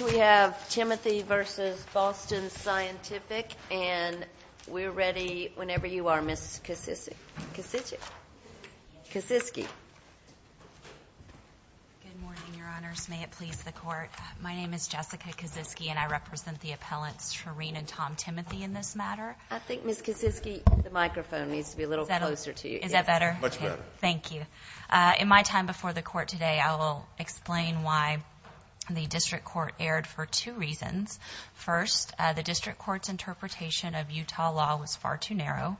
We have Timothy v. Boston Scientific, and we're ready whenever you are, Ms. Kosicki. Good morning, Your Honors. May it please the Court? My name is Jessica Kosicki, and I represent the appellants Sharrene and Tom Timothy in this matter. I think Ms. Kosicki, the microphone needs to be a little closer to you. Is that better? Much better. Thank you. In my time before the Court today, I will explain why the District Court erred for two reasons. First, the District Court's interpretation of Utah law was far too narrow,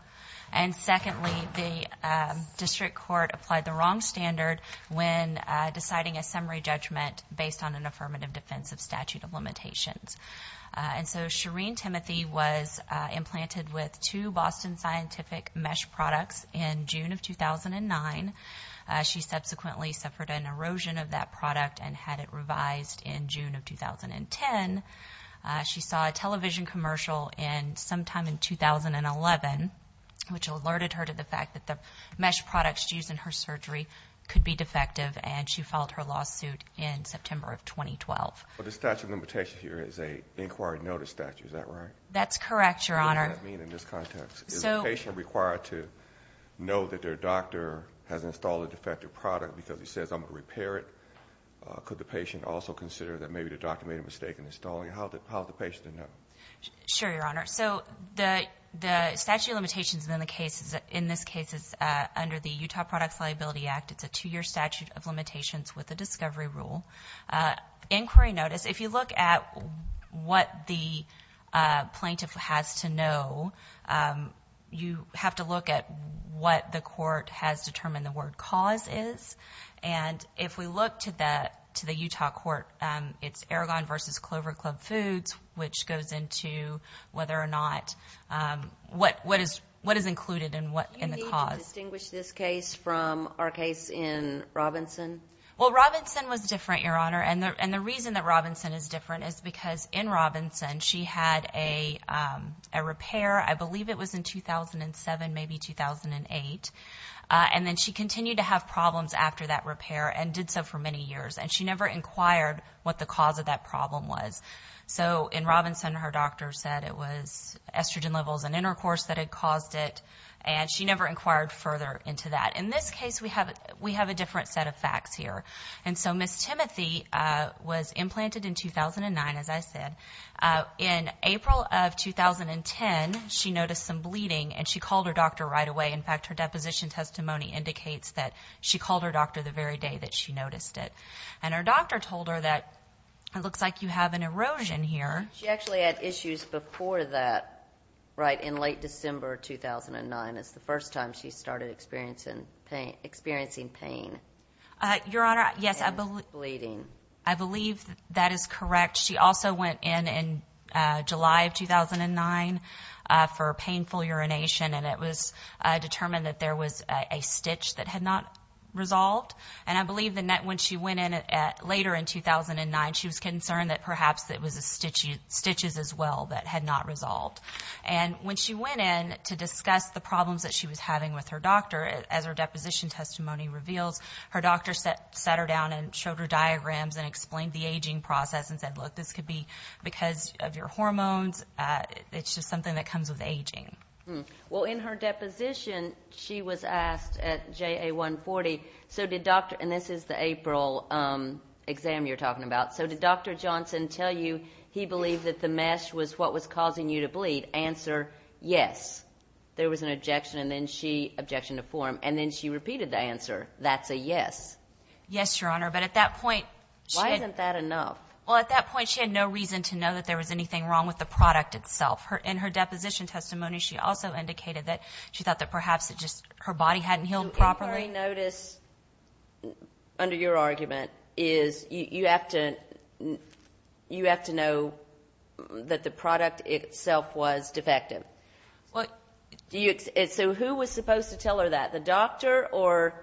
and secondly, the District Court applied the wrong standard when deciding a summary judgment based on an affirmative defense of statute of limitations. And so Sharrene Timothy was implanted with two Boston Scientific mesh products in June of 2009. She subsequently suffered an erosion of that product and had it revised in June of 2010. She saw a television commercial sometime in 2011, which alerted her to the fact that the mesh products used in her surgery could be defective, and she filed her lawsuit in September of 2012. The statute of limitations here is an inquiry notice statute, is that right? That's correct, Your Honor. What does that mean in this context? Is the patient required to know that their doctor has installed a defective product because he says, I'm going to repair it? Could the patient also consider that maybe the doctor made a mistake in installing it? How would the patient know? Sure, Your Honor. So the statute of limitations in this case is under the Utah Products Liability Act. It's a two-year statute of limitations with a discovery rule. Inquiry notice, if you look at what the plaintiff has to know, you have to look at what the court has determined the word cause is. And if we look to the Utah court, it's Aragon v. Clover Club Foods, which goes into whether or not what is included in the cause. Do you need to distinguish this case from our case in Robinson? Well, Robinson was different, Your Honor, and the reason that Robinson is different is because in Robinson she had a repair, I believe it was in 2007, maybe 2008, and then she continued to have problems after that repair and did so for many years, and she never inquired what the cause of that problem was. So in Robinson, her doctor said it was estrogen levels and intercourse that had caused it, and she never inquired further into that. In this case, we have a different set of facts here. And so Ms. Timothy was implanted in 2009, as I said. In April of 2010, she noticed some bleeding, and she called her doctor right away. In fact, her deposition testimony indicates that she called her doctor the very day that she noticed it. And her doctor told her that it looks like you have an erosion here. She actually had issues before that, right, in late December 2009. It's the first time she started experiencing pain. Your Honor, yes, I believe that is correct. She also went in in July of 2009 for painful urination, and it was determined that there was a stitch that had not resolved. And I believe that when she went in later in 2009, she was concerned that perhaps it was the stitches as well that had not resolved. And when she went in to discuss the problems that she was having with her doctor, as her deposition testimony reveals, her doctor sat her down and showed her diagrams and explained the aging process and said, look, this could be because of your hormones. It's just something that comes with aging. Well, in her deposition, she was asked at JA 140, and this is the April exam you're talking about, so did Dr. Johnson tell you he believed that the mesh was what was causing you to bleed? Answer, yes. There was an objection, and then she objected in a forum, and then she repeated the answer, that's a yes. Yes, Your Honor, but at that point she had no reason to know that there was anything wrong with the product itself. In her deposition testimony, she also indicated that she thought that perhaps her body hadn't healed properly. Inquiry notice, under your argument, is you have to know that the product itself was defective. So who was supposed to tell her that, the doctor or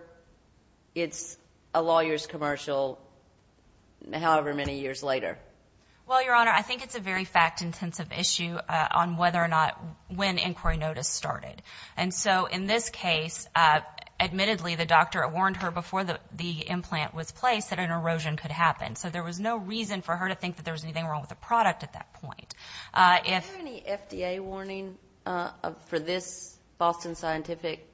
it's a lawyer's commercial however many years later? Well, Your Honor, I think it's a very fact-intensive issue on whether or not when inquiry notice started. And so in this case, admittedly, the doctor warned her before the implant was placed that an erosion could happen. So there was no reason for her to think that there was anything wrong with the product at that point. Was there any FDA warning for this Boston Scientific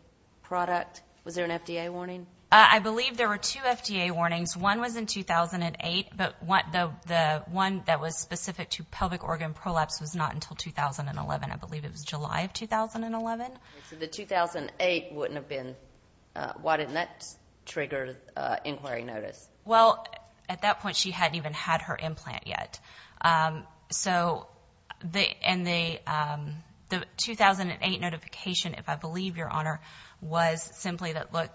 product? Was there an FDA warning? I believe there were two FDA warnings. One was in 2008, but the one that was specific to pelvic organ prolapse was not until 2011. I believe it was July of 2011. So the 2008 wouldn't have been... Why didn't that trigger inquiry notice? Well, at that point, she hadn't even had her implant yet. So the 2008 notification, if I believe, Your Honor, was simply that, look,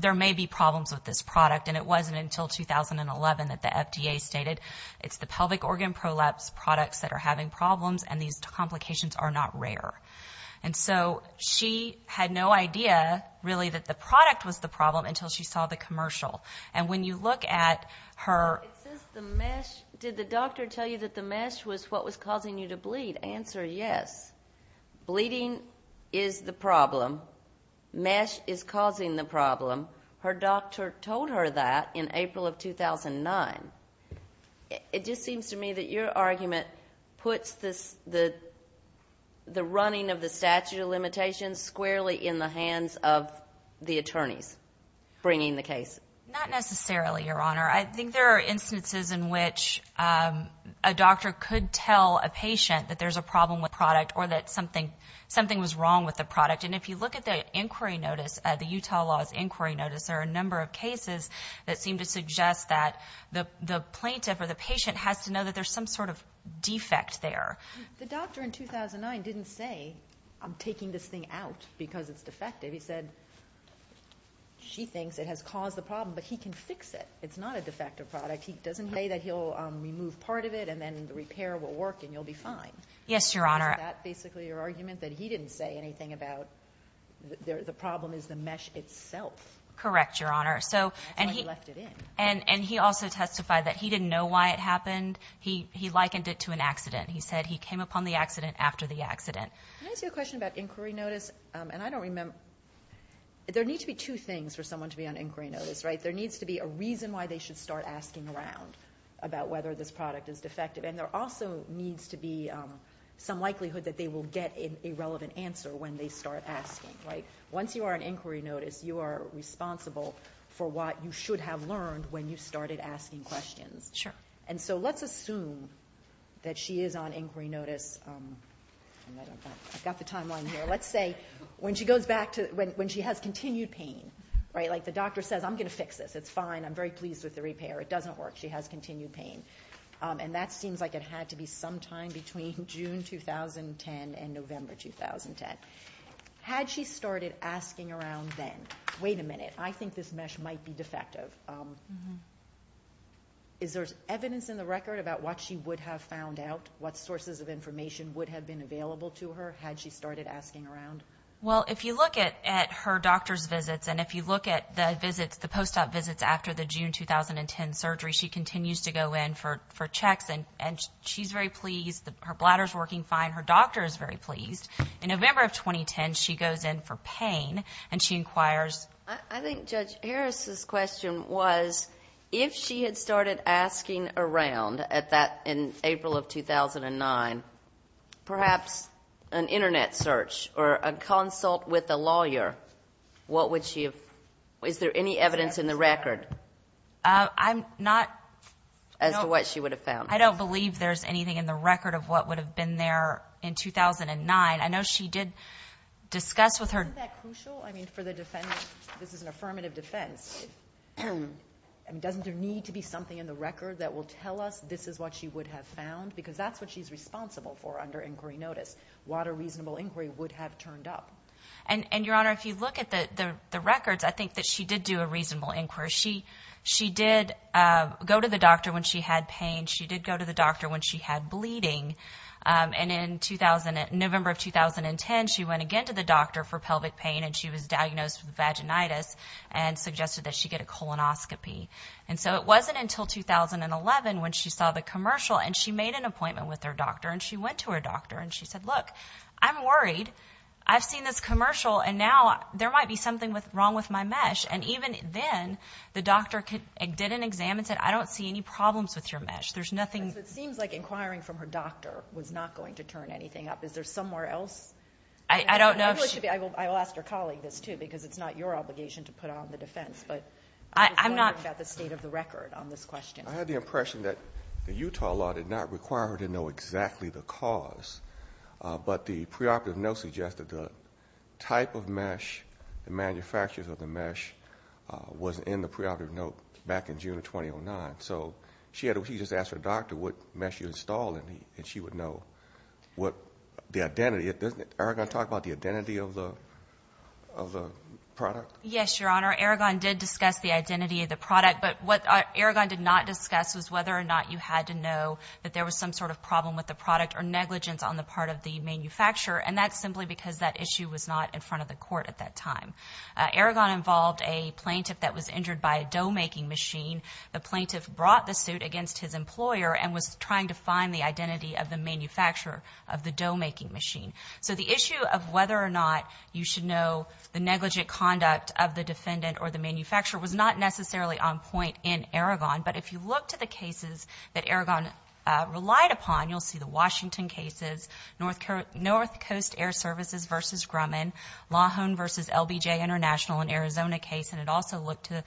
there may be problems with this product, and it wasn't until 2011 that the FDA stated it's the pelvic organ prolapse products that are having problems, and these complications are not rare. And so she had no idea, really, that the product was the problem until she saw the commercial. And when you look at her... It says the mesh... Did the doctor tell you that the mesh was what was causing you to bleed? Answer, yes. Bleeding is the problem. Mesh is causing the problem. Her doctor told her that in April of 2009. It just seems to me that your argument puts the running of the statute of limitations squarely in the hands of the attorneys bringing the case. Not necessarily, Your Honor. I think there are instances in which a doctor could tell a patient that there's a problem with a product or that something was wrong with the product. And if you look at the inquiry notice, the Utah Laws inquiry notice, there are a number of cases that seem to suggest that the plaintiff or the patient has to know that there's some sort of defect there. The doctor in 2009 didn't say, I'm taking this thing out because it's defective. He said, she thinks it has caused the problem, but he can fix it. It's not a defective product. He doesn't say that he'll remove part of it and then the repair will work and you'll be fine. Yes, Your Honor. Isn't that basically your argument, that he didn't say anything about the problem is the mesh itself? Correct, Your Honor. And he also testified that he didn't know why it happened. He likened it to an accident. He said he came upon the accident after the accident. Can I ask you a question about inquiry notice? And I don't remember. There needs to be two things for someone to be on inquiry notice, right? There needs to be a reason why they should start asking around about whether this product is defective. And there also needs to be some likelihood that they will get a relevant answer when they start asking. Once you are on inquiry notice, you are responsible for what you should have learned when you started asking questions. And so let's assume that she is on inquiry notice. I've got the timeline here. Let's say when she has continued pain, like the doctor says, I'm going to fix this. It's fine. I'm very pleased with the repair. It doesn't work. She has continued pain. And that seems like it had to be sometime between June 2010 and November 2010. Had she started asking around then? Wait a minute. I think this mesh might be defective. Is there evidence in the record about what she would have found out, what sources of information would have been available to her had she started asking around? Well, if you look at her doctor's visits and if you look at the post-op visits after the June 2010 surgery, she continues to go in for checks, and she's very pleased. Her bladder is working fine. Her doctor is very pleased. In November of 2010, she goes in for pain, and she inquires. I think Judge Harris's question was, if she had started asking around in April of 2009, perhaps an Internet search or a consult with a lawyer, what would she have found? Is there any evidence in the record? I'm not. As to what she would have found. I don't believe there's anything in the record of what would have been there in 2009. I know she did discuss with her. Isn't that crucial? I mean, for the defense. This is an affirmative defense. Doesn't there need to be something in the record that will tell us this is what she would have found? Because that's what she's responsible for under inquiry notice, what a reasonable inquiry would have turned up. And, Your Honor, if you look at the records, I think that she did do a reasonable inquiry. She did go to the doctor when she had pain. She did go to the doctor when she had bleeding. And in November of 2010, she went again to the doctor for pelvic pain, and she was diagnosed with vaginitis and suggested that she get a colonoscopy. And so it wasn't until 2011 when she saw the commercial, and she made an appointment with her doctor. And she went to her doctor, and she said, Look, I'm worried. I've seen this commercial, and now there might be something wrong with my mesh. And even then, the doctor didn't examine it and said, I don't see any problems with your mesh. It seems like inquiring from her doctor was not going to turn anything up. Is there somewhere else? I will ask her colleague this, too, because it's not your obligation to put on the defense, but I was wondering about the state of the record on this question. I had the impression that the Utah law did not require her to know exactly the cause, but the preoperative note suggested the type of mesh, the manufacturers of the mesh was in the preoperative note back in June of 2009. So she just asked her doctor what mesh you installed, and she would know the identity. Doesn't Aragon talk about the identity of the product? Yes, Your Honor. Aragon did discuss the identity of the product, but what Aragon did not discuss was whether or not you had to know that there was some sort of problem with the product or negligence on the part of the manufacturer, and that's simply because that issue was not in front of the court at that time. Aragon involved a plaintiff that was injured by a dough-making machine. The plaintiff brought the suit against his employer and was trying to find the identity of the manufacturer of the dough-making machine. So the issue of whether or not you should know the negligent conduct of the defendant or the manufacturer was not necessarily on point in Aragon, but if you look to the cases that Aragon relied upon, you'll see the Washington cases, North Coast Air Services v. Grumman, Lahon v. LBJ International in Arizona case, and it also looked to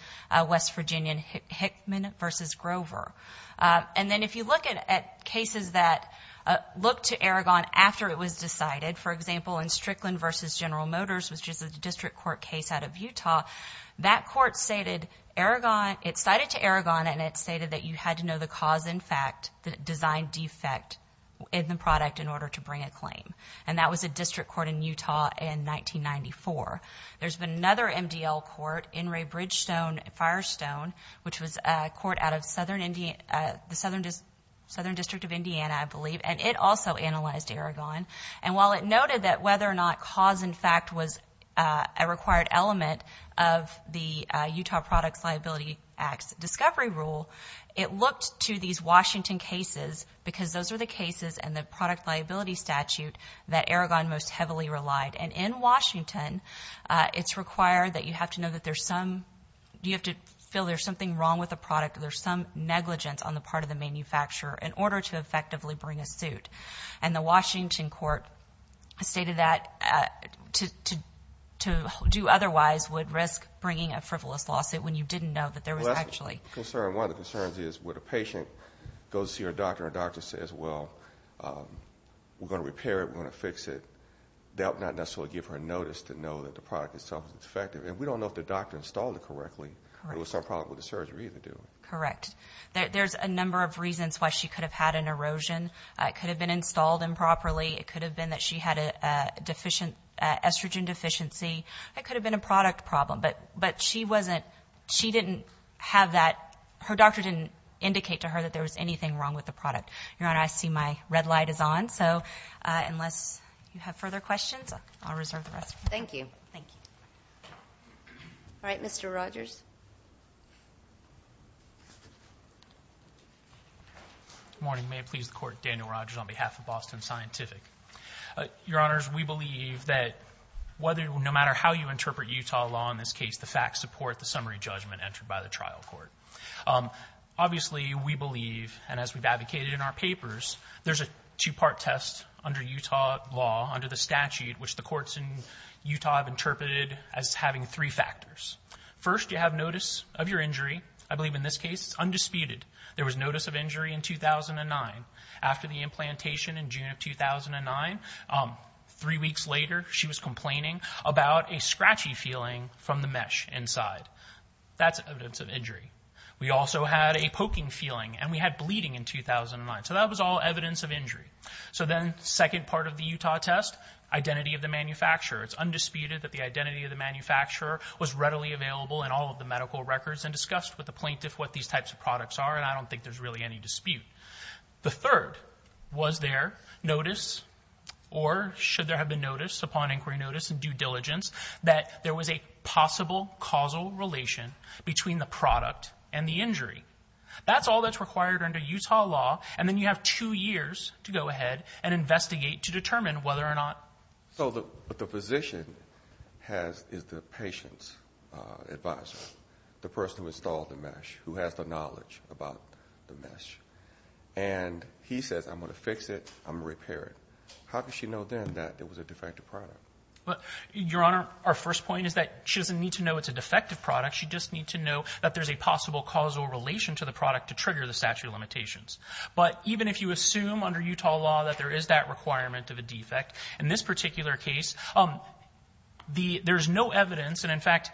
West Virginia Hickman v. Grover. And then if you look at cases that looked to Aragon after it was decided, for example, in Strickland v. General Motors, which is a district court case out of Utah, that court cited to Aragon, and it stated that you had to know the cause in fact, the design defect in the product in order to bring a claim, and that was a district court in Utah in 1994. There's been another MDL court, Enray Bridgestone Firestone, which was a court out of the Southern District of Indiana, I believe, and it also analyzed Aragon. And while it noted that whether or not cause in fact was a required element, of the Utah Products Liability Act's discovery rule, it looked to these Washington cases, because those are the cases and the product liability statute that Aragon most heavily relied. And in Washington, it's required that you have to know that there's some, you have to feel there's something wrong with the product, there's some negligence on the part of the manufacturer in order to effectively bring a suit. And the Washington court stated that to do otherwise would risk bringing a frivolous lawsuit when you didn't know that there was actually... Well, that's a concern. One of the concerns is when a patient goes to see her doctor, and her doctor says, well, we're going to repair it, we're going to fix it, they'll not necessarily give her a notice to know that the product itself is defective. And we don't know if the doctor installed it correctly. There was some problem with the surgery to do it. Correct. There's a number of reasons why she could have had an erosion. It could have been installed improperly. It could have been that she had an estrogen deficiency. It could have been a product problem. But she didn't have that. Her doctor didn't indicate to her that there was anything wrong with the product. Your Honor, I see my red light is on. So unless you have further questions, I'll reserve the rest for now. Thank you. Thank you. All right, Mr. Rogers. Good morning. May it please the Court, Daniel Rogers on behalf of Boston Scientific. Your Honors, we believe that no matter how you interpret Utah law, in this case the facts support the summary judgment entered by the trial court. Obviously, we believe, and as we've advocated in our papers, there's a two-part test under Utah law, under the statute, which the courts in Utah have interpreted as having three factors. First, you have notice of your injury. I believe in this case it's undisputed. There was notice of injury in 2009. After the implantation in June of 2009, three weeks later, she was complaining about a scratchy feeling from the mesh inside. That's evidence of injury. We also had a poking feeling, and we had bleeding in 2009. So that was all evidence of injury. So then the second part of the Utah test, identity of the manufacturer. It's undisputed that the identity of the manufacturer was readily available in all of the medical records and discussed with the plaintiff what these types of products are, and I don't think there's really any dispute. The third was there notice, or should there have been notice upon inquiry notice and due diligence, that there was a possible causal relation between the product and the injury. That's all that's required under Utah law, and then you have two years to go ahead and investigate to determine whether or not. So the physician is the patient's advisor, the person who installed the mesh, who has the knowledge about the mesh, and he says, I'm going to fix it, I'm going to repair it. How does she know then that it was a defective product? Your Honor, our first point is that she doesn't need to know it's a defective product. She just needs to know that there's a possible causal relation to the product to trigger the statute of limitations. But even if you assume under Utah law that there is that requirement of a defect, in this particular case, there's no evidence. And in fact,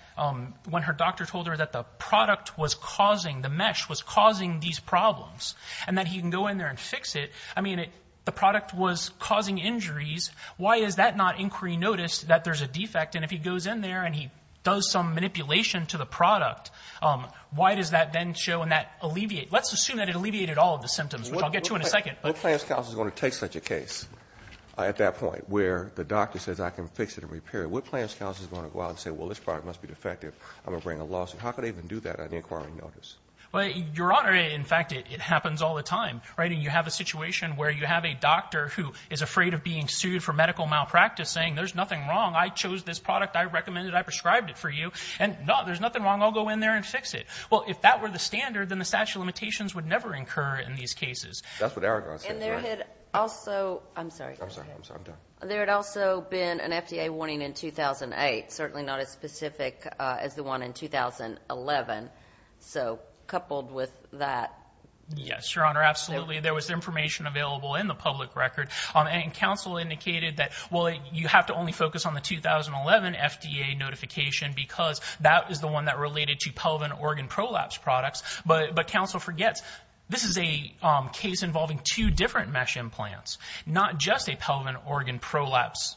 when her doctor told her that the product was causing, the mesh was causing these problems, and that he can go in there and fix it, I mean, the product was causing injuries. Why is that not inquiry notice that there's a defect? And if he goes in there and he does some manipulation to the product, why does that then show and that alleviate? Let's assume that it alleviated all of the symptoms, which I'll get to in a second. What plan of scouts is going to take such a case at that point where the doctor says I can fix it and repair it? What plan of scouts is going to go out and say, well, this product must be defective, I'm going to bring a lawsuit? How can they even do that at the inquiry notice? Your Honor, in fact, it happens all the time. You have a situation where you have a doctor who is afraid of being sued for medical malpractice saying there's nothing wrong, I chose this product, I recommended it, I prescribed it for you, and no, there's nothing wrong, I'll go in there and fix it. Well, if that were the standard, then the statute of limitations would never incur in these cases. That's what Aragon says, right? And there had also been an FDA warning in 2008, certainly not as specific as the one in 2011. So coupled with that. Yes, Your Honor, absolutely. There was information available in the public record, and counsel indicated that, well, you have to only focus on the 2011 FDA notification because that is the one that related to pelvic organ prolapse products, but counsel forgets this is a case involving two different mesh implants, not just a pelvic organ prolapse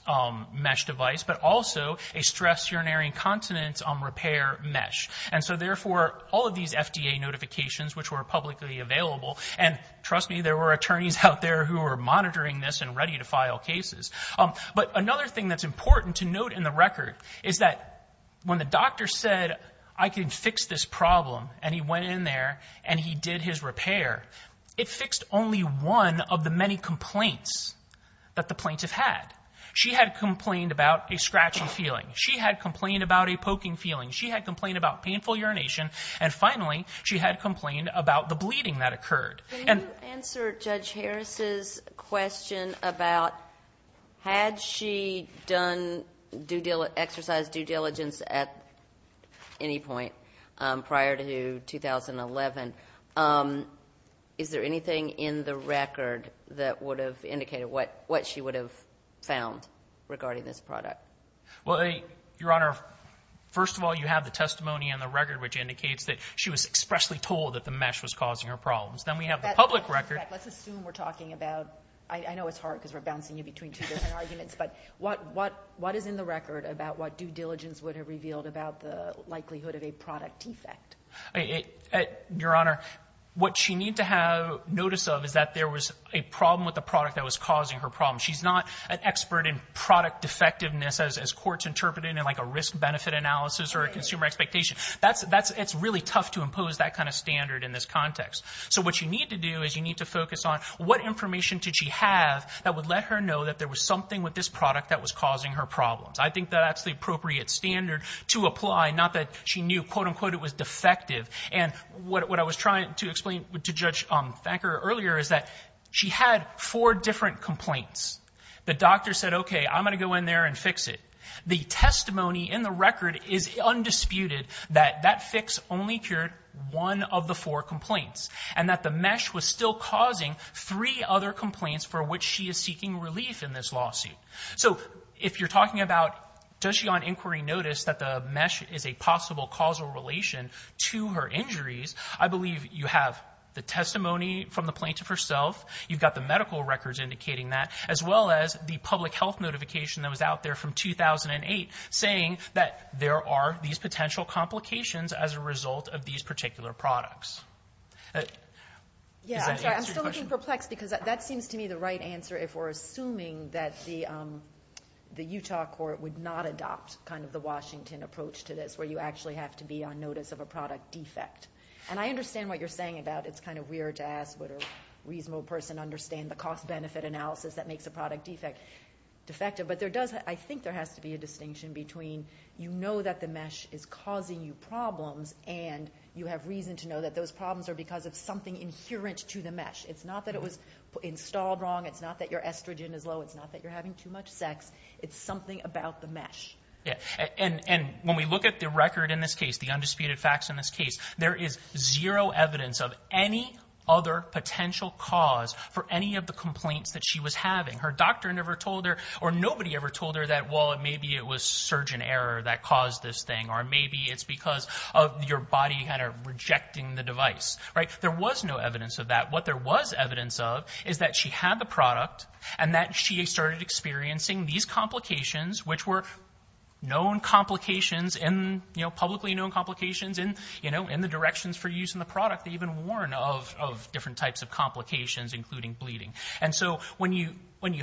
mesh device, but also a stress urinary incontinence repair mesh. And so, therefore, all of these FDA notifications, which were publicly available, and trust me, there were attorneys out there who were monitoring this and ready to file cases. But another thing that's important to note in the record is that when the doctor said, I can fix this problem, and he went in there and he did his repair, it fixed only one of the many complaints that the plaintiff had. She had complained about a scratchy feeling. She had complained about a poking feeling. She had complained about painful urination. And finally, she had complained about the bleeding that occurred. Can you answer Judge Harris's question about, had she exercised due diligence at any point prior to 2011, is there anything in the record that would have indicated what she would have found regarding this product? Well, Your Honor, first of all, you have the testimony in the record, which indicates that she was expressly told that the mesh was causing her problems. Then we have the public record. Let's assume we're talking about, I know it's hard because we're bouncing you between two different arguments, but what is in the record about what due diligence would have revealed about the likelihood of a product defect? Your Honor, what she needs to have notice of is that there was a problem with the product that was causing her problems. She's not an expert in product defectiveness, as courts interpret it, in like a risk-benefit analysis or a consumer expectation. It's really tough to impose that kind of standard in this context. So what you need to do is you need to focus on what information did she have that would let her know that there was something with this product that was causing her problems. I think that that's the appropriate standard to apply, not that she knew, quote-unquote, it was defective. And what I was trying to explain to Judge Fanker earlier is that she had four different complaints. The doctor said, okay, I'm going to go in there and fix it. The testimony in the record is undisputed that that fix only cured one of the four complaints and that the mesh was still causing three other complaints for which she is seeking relief in this lawsuit. So if you're talking about does she on inquiry notice that the mesh is a possible causal relation to her injuries, I believe you have the testimony from the plaintiff herself, you've got the medical records indicating that, as well as the public health notification that was out there from 2008 saying that there are these potential complications as a result of these particular products. Does that answer your question? Yeah, I'm sorry, I'm still looking perplexed because that seems to me the right answer if we're assuming that the Utah court would not adopt kind of the Washington approach to this where you actually have to be on notice of a product defect. And I understand what you're saying about it's kind of weird to ask what a reasonable person would understand the cost-benefit analysis that makes a product defect defective. But I think there has to be a distinction between you know that the mesh is causing you problems and you have reason to know that those problems are because of something inherent to the mesh. It's not that it was installed wrong, it's not that your estrogen is low, it's not that you're having too much sex, it's something about the mesh. And when we look at the record in this case, the undisputed facts in this case, there is zero evidence of any other potential cause for any of the complaints that she was having. Her doctor never told her or nobody ever told her that well maybe it was surgeon error that caused this thing or maybe it's because of your body kind of rejecting the device. There was no evidence of that. What there was evidence of is that she had the product and that she started experiencing these complications which were known complications and publicly known complications in the directions for use in the product. They even warn of different types of complications including bleeding. And so when you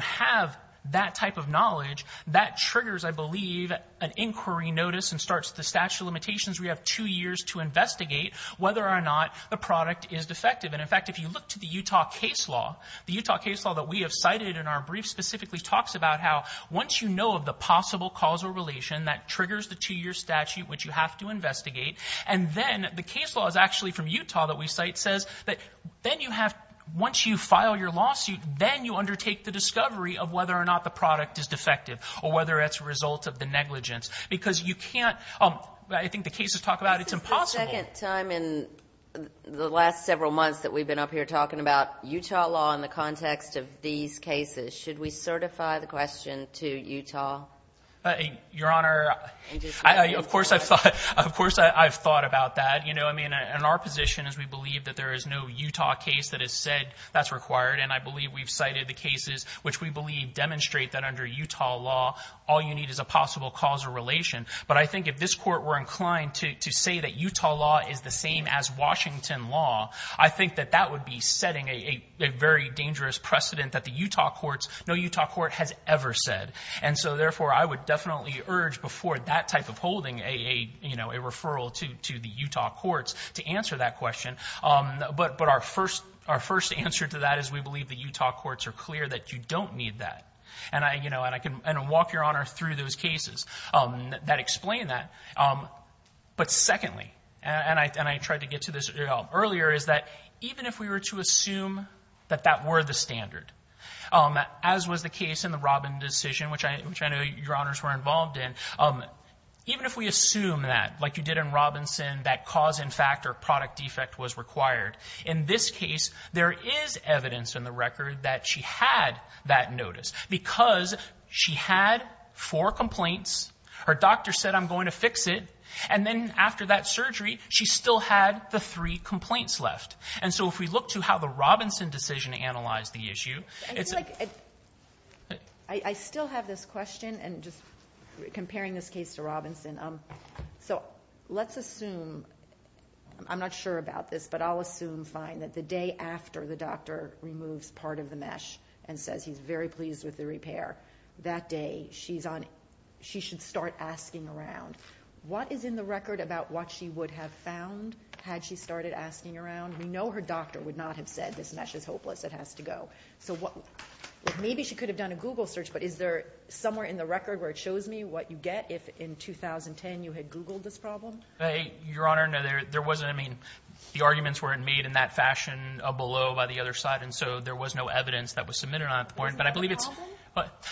have that type of knowledge, that triggers I believe an inquiry notice and starts the statute of limitations where you have two years to investigate whether or not the product is defective. And in fact if you look to the Utah case law, the Utah case law that we have cited in our brief specifically talks about how once you know of the possible cause or relation that triggers the two-year statute which you have to investigate. And then the case law is actually from Utah that we cite says that then you have, once you file your lawsuit, then you undertake the discovery of whether or not the product is defective or whether it's a result of the negligence. Because you can't, I think the cases talk about it's impossible. This is the second time in the last several months that we've been up here talking about Utah law in the context of these cases. Should we certify the question to Utah? Your Honor, of course I've thought about that. I mean in our position is we believe that there is no Utah case that has said that's required. And I believe we've cited the cases which we believe demonstrate that under Utah law all you need is a possible cause or relation. But I think if this court were inclined to say that Utah law is the same as Washington law, I think that that would be setting a very dangerous precedent that the Utah courts, no Utah court has ever said. And so therefore I would definitely urge before that type of holding a referral to the Utah courts to answer that question. But our first answer to that is we believe the Utah courts are clear that you don't need that. And I can walk your Honor through those cases that explain that. But secondly, and I tried to get to this earlier, is that even if we were to assume that that were the standard, as was the case in the Robin decision, which I know your Honors were involved in, even if we assume that, like you did in Robinson, that cause in fact or product defect was required, in this case there is evidence in the record that she had that notice because she had four complaints, her doctor said I'm going to fix it, and then after that surgery she still had the three complaints left. And so if we look to how the Robinson decision analyzed the issue. I still have this question and just comparing this case to Robinson. So let's assume, I'm not sure about this, but I'll assume fine that the day after the doctor removes part of the mesh and says he's very pleased with the repair, that day she should start asking around. What is in the record about what she would have found had she started asking around? We know her doctor would not have said this mesh is hopeless, it has to go. So maybe she could have done a Google search, but is there somewhere in the record where it shows me what you get if in 2010 you had Googled this problem? Your Honor, no, there wasn't. I mean, the arguments weren't made in that fashion below by the other side, and so there was no evidence that was submitted on it at the point. Is that a problem?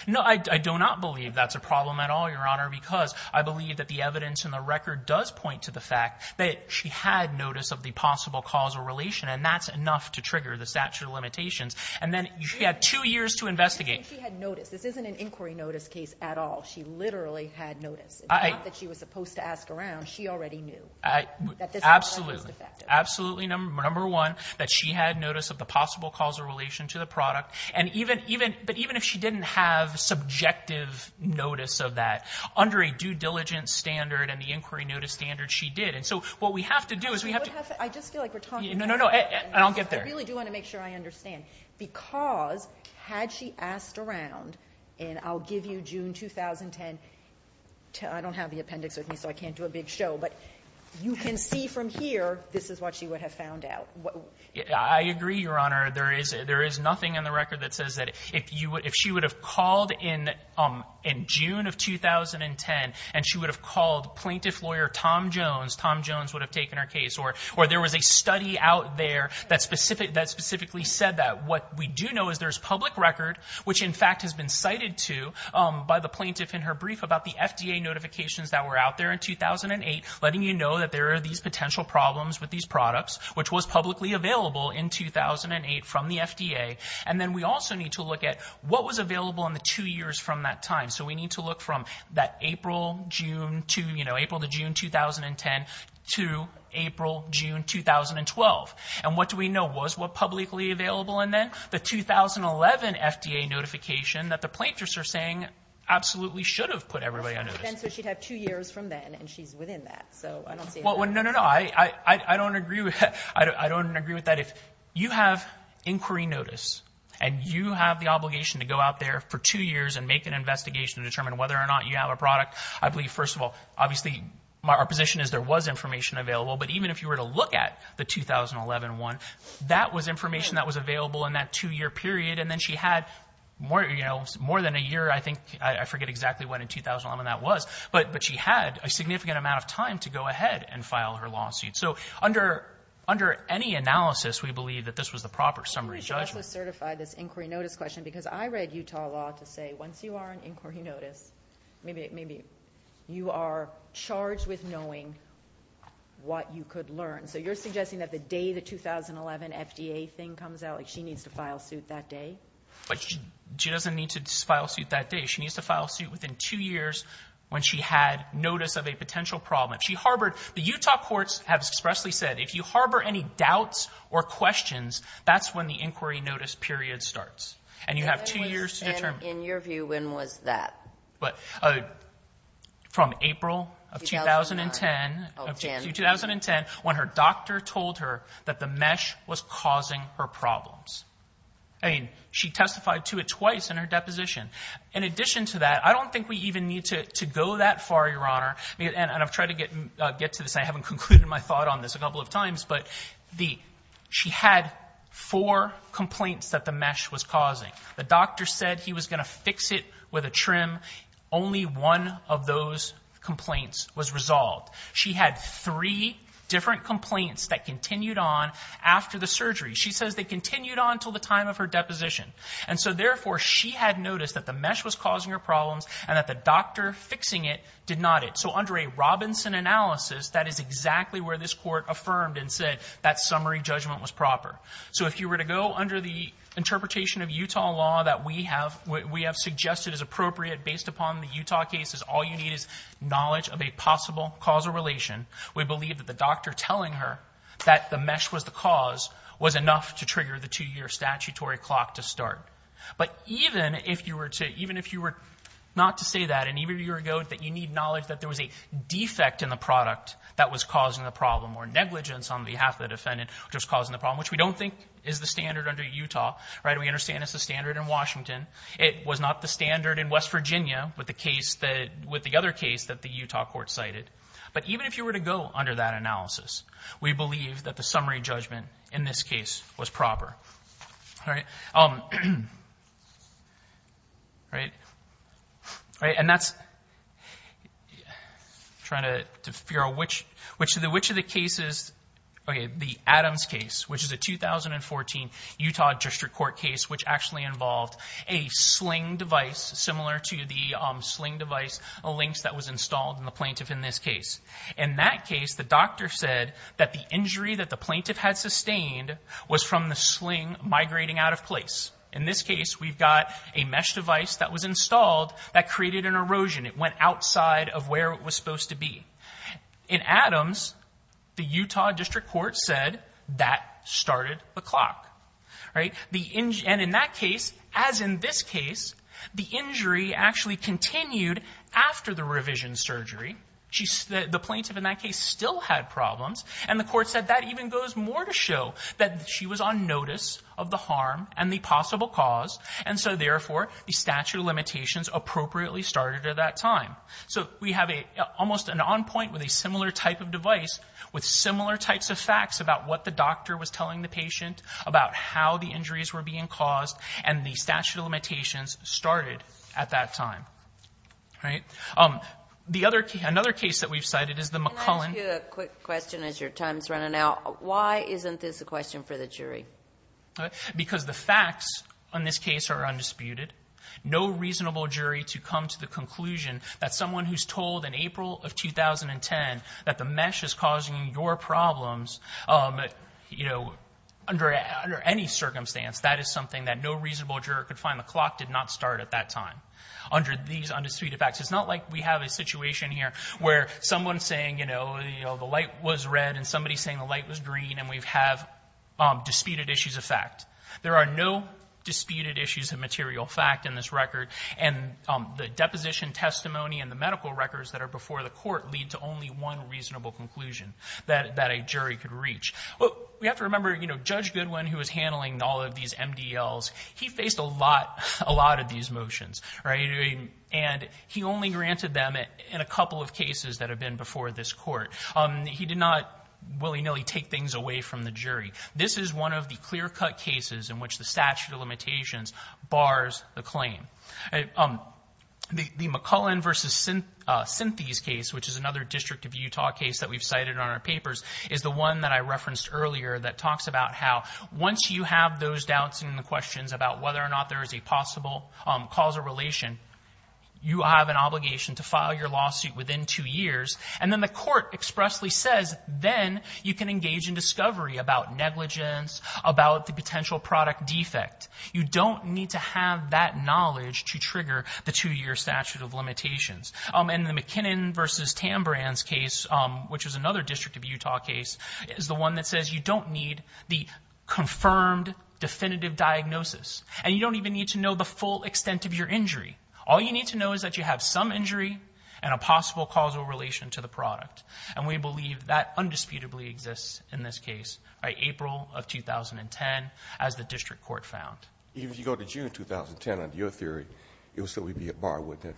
No, I do not believe that's a problem at all, Your Honor, because I believe that the evidence in the record does point to the fact that she had notice of the possible causal relation, and that's enough to trigger the statute of limitations. And then she had two years to investigate. She had notice. This isn't an inquiry notice case at all. She literally had notice. It's not that she was supposed to ask around. She already knew that this was not effective. Absolutely, absolutely, number one, that she had notice of the possible causal relation to the product. But even if she didn't have subjective notice of that, under a due diligence standard and the inquiry notice standard, she did. And so what we have to do is we have to – I just feel like we're talking – No, no, no, I don't get there. I really do want to make sure I understand, because had she asked around, and I'll give you June 2010 – I don't have the appendix with me, so I can't do a big show, but you can see from here this is what she would have found out. I agree, Your Honor. There is nothing in the record that says that if she would have called in June of 2010, and she would have called plaintiff lawyer Tom Jones, Tom Jones would have taken her case, or there was a study out there that specifically said that. What we do know is there's public record, which in fact has been cited to by the plaintiff in her brief about the FDA notifications that were out there in 2008, letting you know that there are these potential problems with these products, which was publicly available in 2008 from the FDA. And then we also need to look at what was available in the two years from that time. So we need to look from that April to June 2010 to April, June 2012. And what do we know? Was what publicly available in then? The 2011 FDA notification that the plaintiffs are saying absolutely should have put everybody on notice. So she'd have two years from then, and she's within that. No, no, no. I don't agree with that. If you have inquiry notice, and you have the obligation to go out there for two years and make an investigation to determine whether or not you have a product, I believe, first of all, obviously our position is there was information available. But even if you were to look at the 2011 one, that was information that was available in that two-year period. And then she had more than a year, I think. I forget exactly when in 2011 that was. But she had a significant amount of time to go ahead and file her lawsuit. So under any analysis, we believe that this was the proper summary judgment. Let me also certify this inquiry notice question, because I read Utah law to say once you are on inquiry notice, maybe you are charged with knowing what you could learn. So you're suggesting that the day the 2011 FDA thing comes out, she needs to file suit that day? She doesn't need to file suit that day. She needs to file suit within two years when she had notice of a potential problem. The Utah courts have expressly said if you harbor any doubts or questions, that's when the inquiry notice period starts. And you have two years to determine. In your view, when was that? From April of 2010. Oh, 10. 2010, when her doctor told her that the mesh was causing her problems. I mean, she testified to it twice in her deposition. In addition to that, I don't think we even need to go that far, Your Honor. And I've tried to get to this. I haven't concluded my thought on this a couple of times. But she had four complaints that the mesh was causing. The doctor said he was going to fix it with a trim. Only one of those complaints was resolved. She had three different complaints that continued on after the surgery. She says they continued on until the time of her deposition. And so, therefore, she had notice that the mesh was causing her problems and that the doctor fixing it did not it. So under a Robinson analysis, that is exactly where this court affirmed and said that summary judgment was proper. So if you were to go under the interpretation of Utah law that we have suggested is appropriate based upon the Utah cases, all you need is knowledge of a possible causal relation. We believe that the doctor telling her that the mesh was the cause was enough to trigger the two-year statutory clock to start. But even if you were not to say that, and even if you were to go that you need knowledge that there was a defect in the product that was causing the problem or negligence on behalf of the defendant which was causing the problem, which we don't think is the standard under Utah. We understand it's the standard in Washington. It was not the standard in West Virginia with the other case that the Utah court cited. But even if you were to go under that analysis, we believe that the summary judgment in this case was proper. All right. And that's trying to figure out which of the cases, the Adams case which is a 2014 Utah district court case which actually involved a sling device similar to the sling device links that was installed in the plaintiff in this case. In that case, the doctor said that the injury that the plaintiff had sustained was from the sling migrating out of place. In this case, we've got a mesh device that was installed that created an erosion. It went outside of where it was supposed to be. In Adams, the Utah district court said that started the clock. And in that case, as in this case, the injury actually continued after the revision surgery. The plaintiff in that case still had problems. And the court said that even goes more to show that she was on notice of the harm and the possible cause. And so, therefore, the statute of limitations appropriately started at that time. So we have almost an on point with a similar type of device with similar types of facts about what the doctor was telling the patient, about how the injuries were being caused, and the statute of limitations started at that time. All right. Another case that we've cited is the McCullen. Let me ask you a quick question as your time is running out. Why isn't this a question for the jury? Because the facts on this case are undisputed. No reasonable jury to come to the conclusion that someone who's told in April of 2010 that the mesh is causing your problems under any circumstance, that is something that no reasonable juror could find. The clock did not start at that time under these undisputed facts. It's not like we have a situation here where someone's saying, you know, the light was red and somebody's saying the light was green and we have disputed issues of fact. There are no disputed issues of material fact in this record. And the deposition testimony and the medical records that are before the court lead to only one reasonable conclusion that a jury could reach. We have to remember, you know, Judge Goodwin, who was handling all of these MDLs, he faced a lot of these motions. And he only granted them in a couple of cases that have been before this court. He did not willy-nilly take things away from the jury. This is one of the clear-cut cases in which the statute of limitations bars the claim. The McCullen v. Synthes case, which is another District of Utah case that we've cited on our papers, is the one that I referenced earlier that talks about how once you have those doubts and the questions about whether or not there is a possible cause or relation, you have an obligation to file your lawsuit within two years. And then the court expressly says, then you can engage in discovery about negligence, about the potential product defect. You don't need to have that knowledge to trigger the two-year statute of limitations. And the McKinnon v. Tambrans case, which is another District of Utah case, is the one that says you don't need the confirmed definitive diagnosis. And you don't even need to know the full extent of your injury. All you need to know is that you have some injury and a possible cause or relation to the product. And we believe that undisputably exists in this case by April of 2010, as the District Court found. Even if you go to June 2010, under your theory, it would still be a bar, wouldn't it?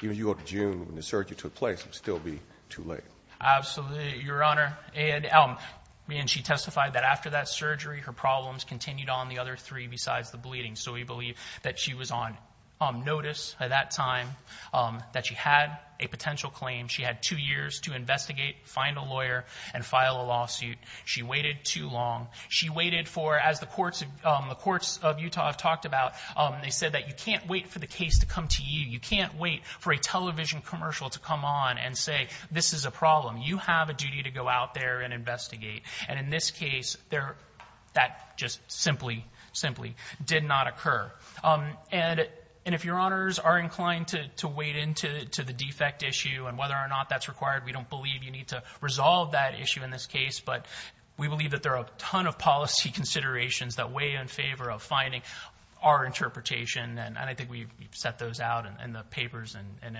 Even if you go to June when the surgery took place, it would still be too late. Absolutely, Your Honor. And she testified that after that surgery, her problems continued on the other three besides the bleeding. So we believe that she was on notice at that time, that she had a potential claim. She had two years to investigate, find a lawyer, and file a lawsuit. She waited too long. She waited for, as the courts of Utah have talked about, they said that you can't wait for the case to come to you. You can't wait for a television commercial to come on and say, this is a problem. You have a duty to go out there and investigate. And in this case, that just simply, simply did not occur. And if Your Honors are inclined to wade into the defect issue and whether or not that's required, we don't believe you need to resolve that issue in this case. But we believe that there are a ton of policy considerations that weigh in favor of finding our interpretation. And I think we've set those out in the papers and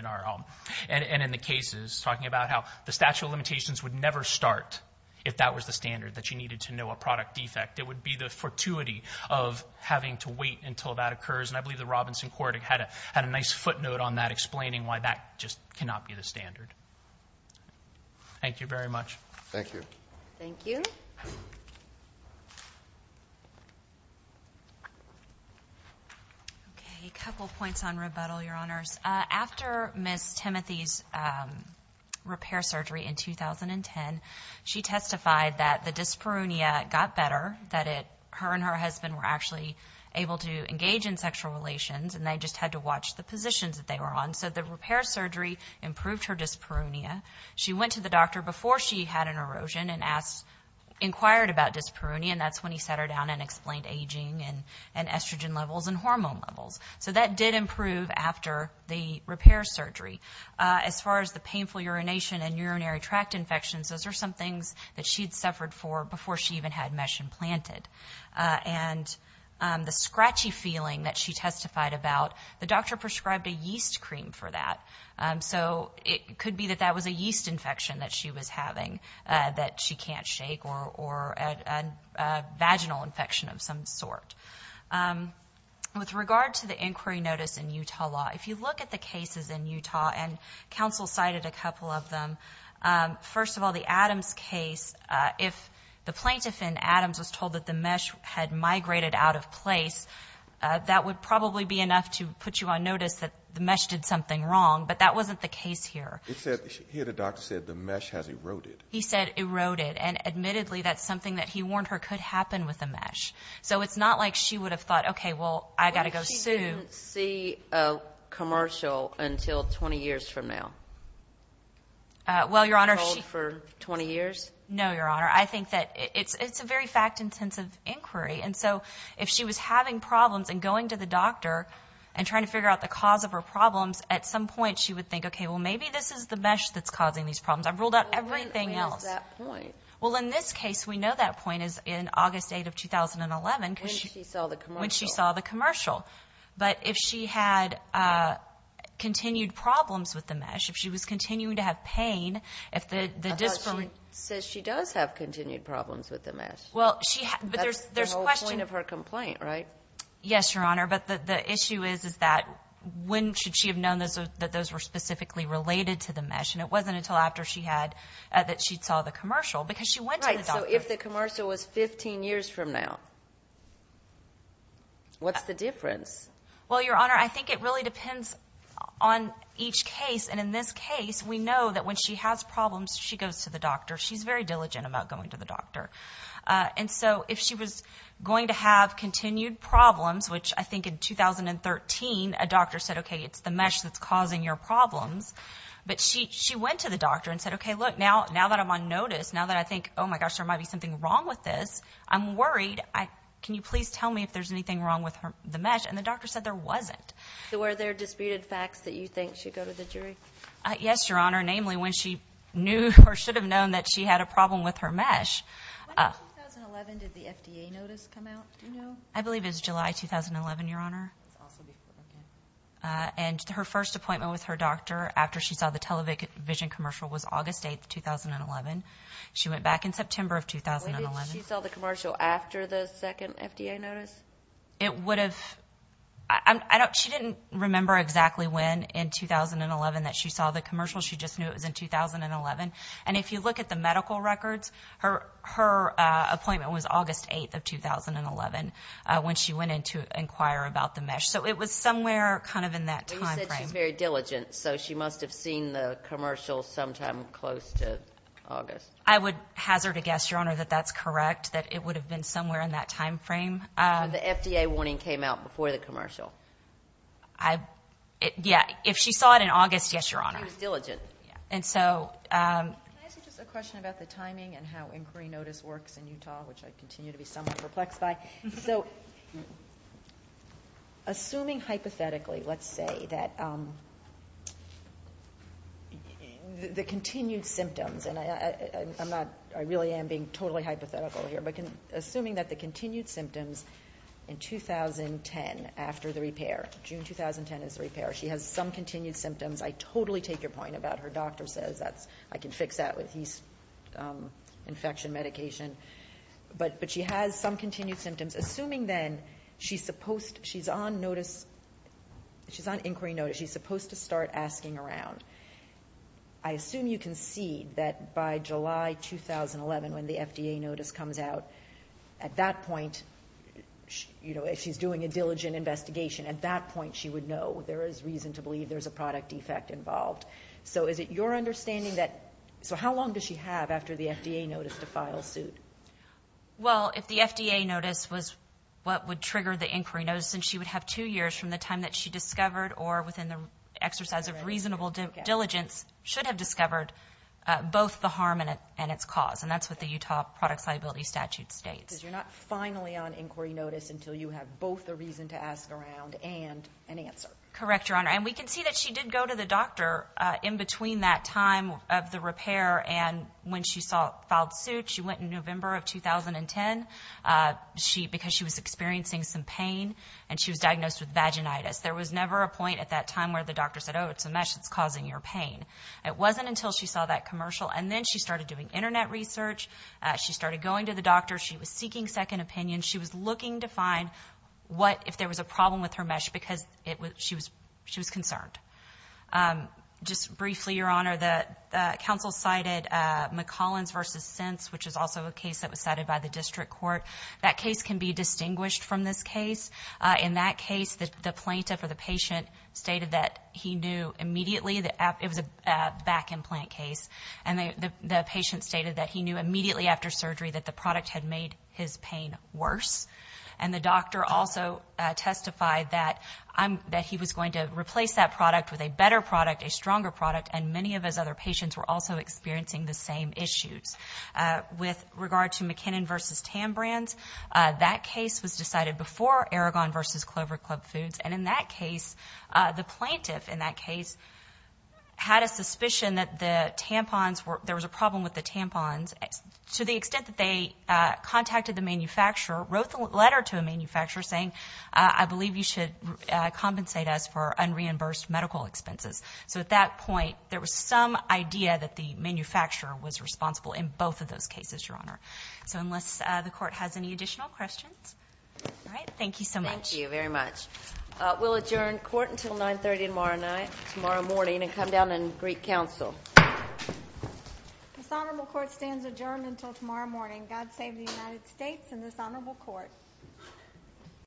in the cases, talking about how the statute of limitations would never start if that was the standard, that you needed to know a product defect. It would be the fortuity of having to wait until that occurs. And I believe the Robinson court had a nice footnote on that explaining why that just cannot be the standard. Thank you very much. Thank you. Thank you. Okay. A couple points on rebuttal, Your Honors. After Ms. Timothy's repair surgery in 2010, she testified that the dyspareunia got better, that her and her husband were actually able to engage in sexual relations, and they just had to watch the positions that they were on. So the repair surgery improved her dyspareunia. She went to the doctor before she had an erosion and inquired about dyspareunia, and that's when he sat her down and explained aging and estrogen levels and hormone levels. So that did improve after the repair surgery. As far as the painful urination and urinary tract infections, those are some things that she had suffered for before she even had mesh implanted. And the scratchy feeling that she testified about, the doctor prescribed a yeast cream for that. So it could be that that was a yeast infection that she was having that she can't shake or a vaginal infection of some sort. With regard to the inquiry notice in Utah law, if you look at the cases in Utah, and counsel cited a couple of them, first of all, the Adams case, if the plaintiff in Adams was told that the mesh had migrated out of place, that would probably be enough to put you on notice that the mesh did something wrong. But that wasn't the case here. Here the doctor said the mesh has eroded. He said eroded. And admittedly that's something that he warned her could happen with the mesh. So it's not like she would have thought, okay, well, I've got to go sue. What if she didn't see a commercial until 20 years from now? Well, Your Honor, she – For 20 years? No, Your Honor. I think that it's a very fact-intensive inquiry. And so if she was having problems and going to the doctor and trying to figure out the cause of her problems, at some point she would think, okay, well, maybe this is the mesh that's causing these problems. I've ruled out everything else. When is that point? Well, in this case, we know that point is in August 8 of 2011. When she saw the commercial. When she saw the commercial. But if she had continued problems with the mesh, if she was continuing to have pain, if the – I thought she said she does have continued problems with the mesh. Well, she – That's the whole point of her complaint, right? Yes, Your Honor. But the issue is, is that when should she have known that those were specifically related to the mesh? And it wasn't until after she had – that she saw the commercial. Because she went to the doctor. Right. So if the commercial was 15 years from now, what's the difference? Well, Your Honor, I think it really depends on each case. And in this case, we know that when she has problems, she goes to the doctor. She's very diligent about going to the doctor. And so if she was going to have continued problems, which I think in 2013 a doctor said, okay, it's the mesh that's causing your problems. But she went to the doctor and said, okay, look, now that I'm on notice, now that I think, oh, my gosh, there might be something wrong with this, I'm worried. Can you please tell me if there's anything wrong with the mesh? And the doctor said there wasn't. So were there disputed facts that you think should go to the jury? Yes, Your Honor. Namely, when she knew or should have known that she had a problem with her mesh. When in 2011 did the FDA notice come out? Do you know? I believe it was July 2011, Your Honor. And her first appointment with her doctor after she saw the television commercial was August 8, 2011. She went back in September of 2011. Wait, did she saw the commercial after the second FDA notice? It would have – she didn't remember exactly when in 2011 that she saw the commercial. She just knew it was in 2011. And if you look at the medical records, her appointment was August 8, 2011, when she went in to inquire about the mesh. So it was somewhere kind of in that time frame. But you said she's very diligent, so she must have seen the commercial sometime close to August. I would hazard a guess, Your Honor, that that's correct, that it would have been somewhere in that time frame. So the FDA warning came out before the commercial? Yeah, if she saw it in August, yes, Your Honor. She was diligent. And so – Can I ask you just a question about the timing and how inquiry notice works in Utah, which I continue to be somewhat perplexed by? So assuming hypothetically, let's say, that the continued symptoms, and I really am being totally hypothetical here, but assuming that the continued symptoms in 2010 after the repair, June 2010 is the repair, she has some continued symptoms. I totally take your point about her doctor says I can fix that with his infection medication. But she has some continued symptoms. Assuming then she's on inquiry notice, she's supposed to start asking around. I assume you can see that by July 2011, when the FDA notice comes out, at that point, if she's doing a diligent investigation, at that point she would know there is reason to believe there's a product defect involved. So is it your understanding that – so how long does she have after the FDA notice to file suit? Well, if the FDA notice was what would trigger the inquiry notice, then she would have two years from the time that she discovered or within the exercise of reasonable diligence should have discovered both the harm and its cause. And that's what the Utah Product Solubility Statute states. You're not finally on inquiry notice until you have both the reason to ask around and an answer. Correct, Your Honor. And we can see that she did go to the doctor in between that time of the repair and when she filed suit. She went in November of 2010 because she was experiencing some pain, and she was diagnosed with vaginitis. There was never a point at that time where the doctor said, oh, it's a mesh that's causing your pain. It wasn't until she saw that commercial and then she started doing Internet research. She started going to the doctor. She was seeking second opinion. She was looking to find what if there was a problem with her mesh because she was concerned. Just briefly, Your Honor, the counsel cited McCollins v. Sents, which is also a case that was cited by the district court. That case can be distinguished from this case. In that case, the plaintiff or the patient stated that he knew immediately. It was a back implant case. And the patient stated that he knew immediately after surgery that the product had made his pain worse. And the doctor also testified that he was going to replace that product with a better product, a stronger product, and many of his other patients were also experiencing the same issues. With regard to McKinnon v. Tambrands, that case was decided before Aragon v. Clover Club Foods. And in that case, the plaintiff in that case had a suspicion that the tampons were ‑‑ there was a problem with the tampons to the extent that they contacted the manufacturer, wrote the letter to a manufacturer saying, I believe you should compensate us for unreimbursed medical expenses. So at that point, there was some idea that the manufacturer was responsible in both of those cases, Your Honor. So unless the court has any additional questions. All right. Thank you so much. Thank you very much. We'll adjourn court until 930 tomorrow morning and come down and greet counsel. This honorable court stands adjourned until tomorrow morning. God save the United States and this honorable court.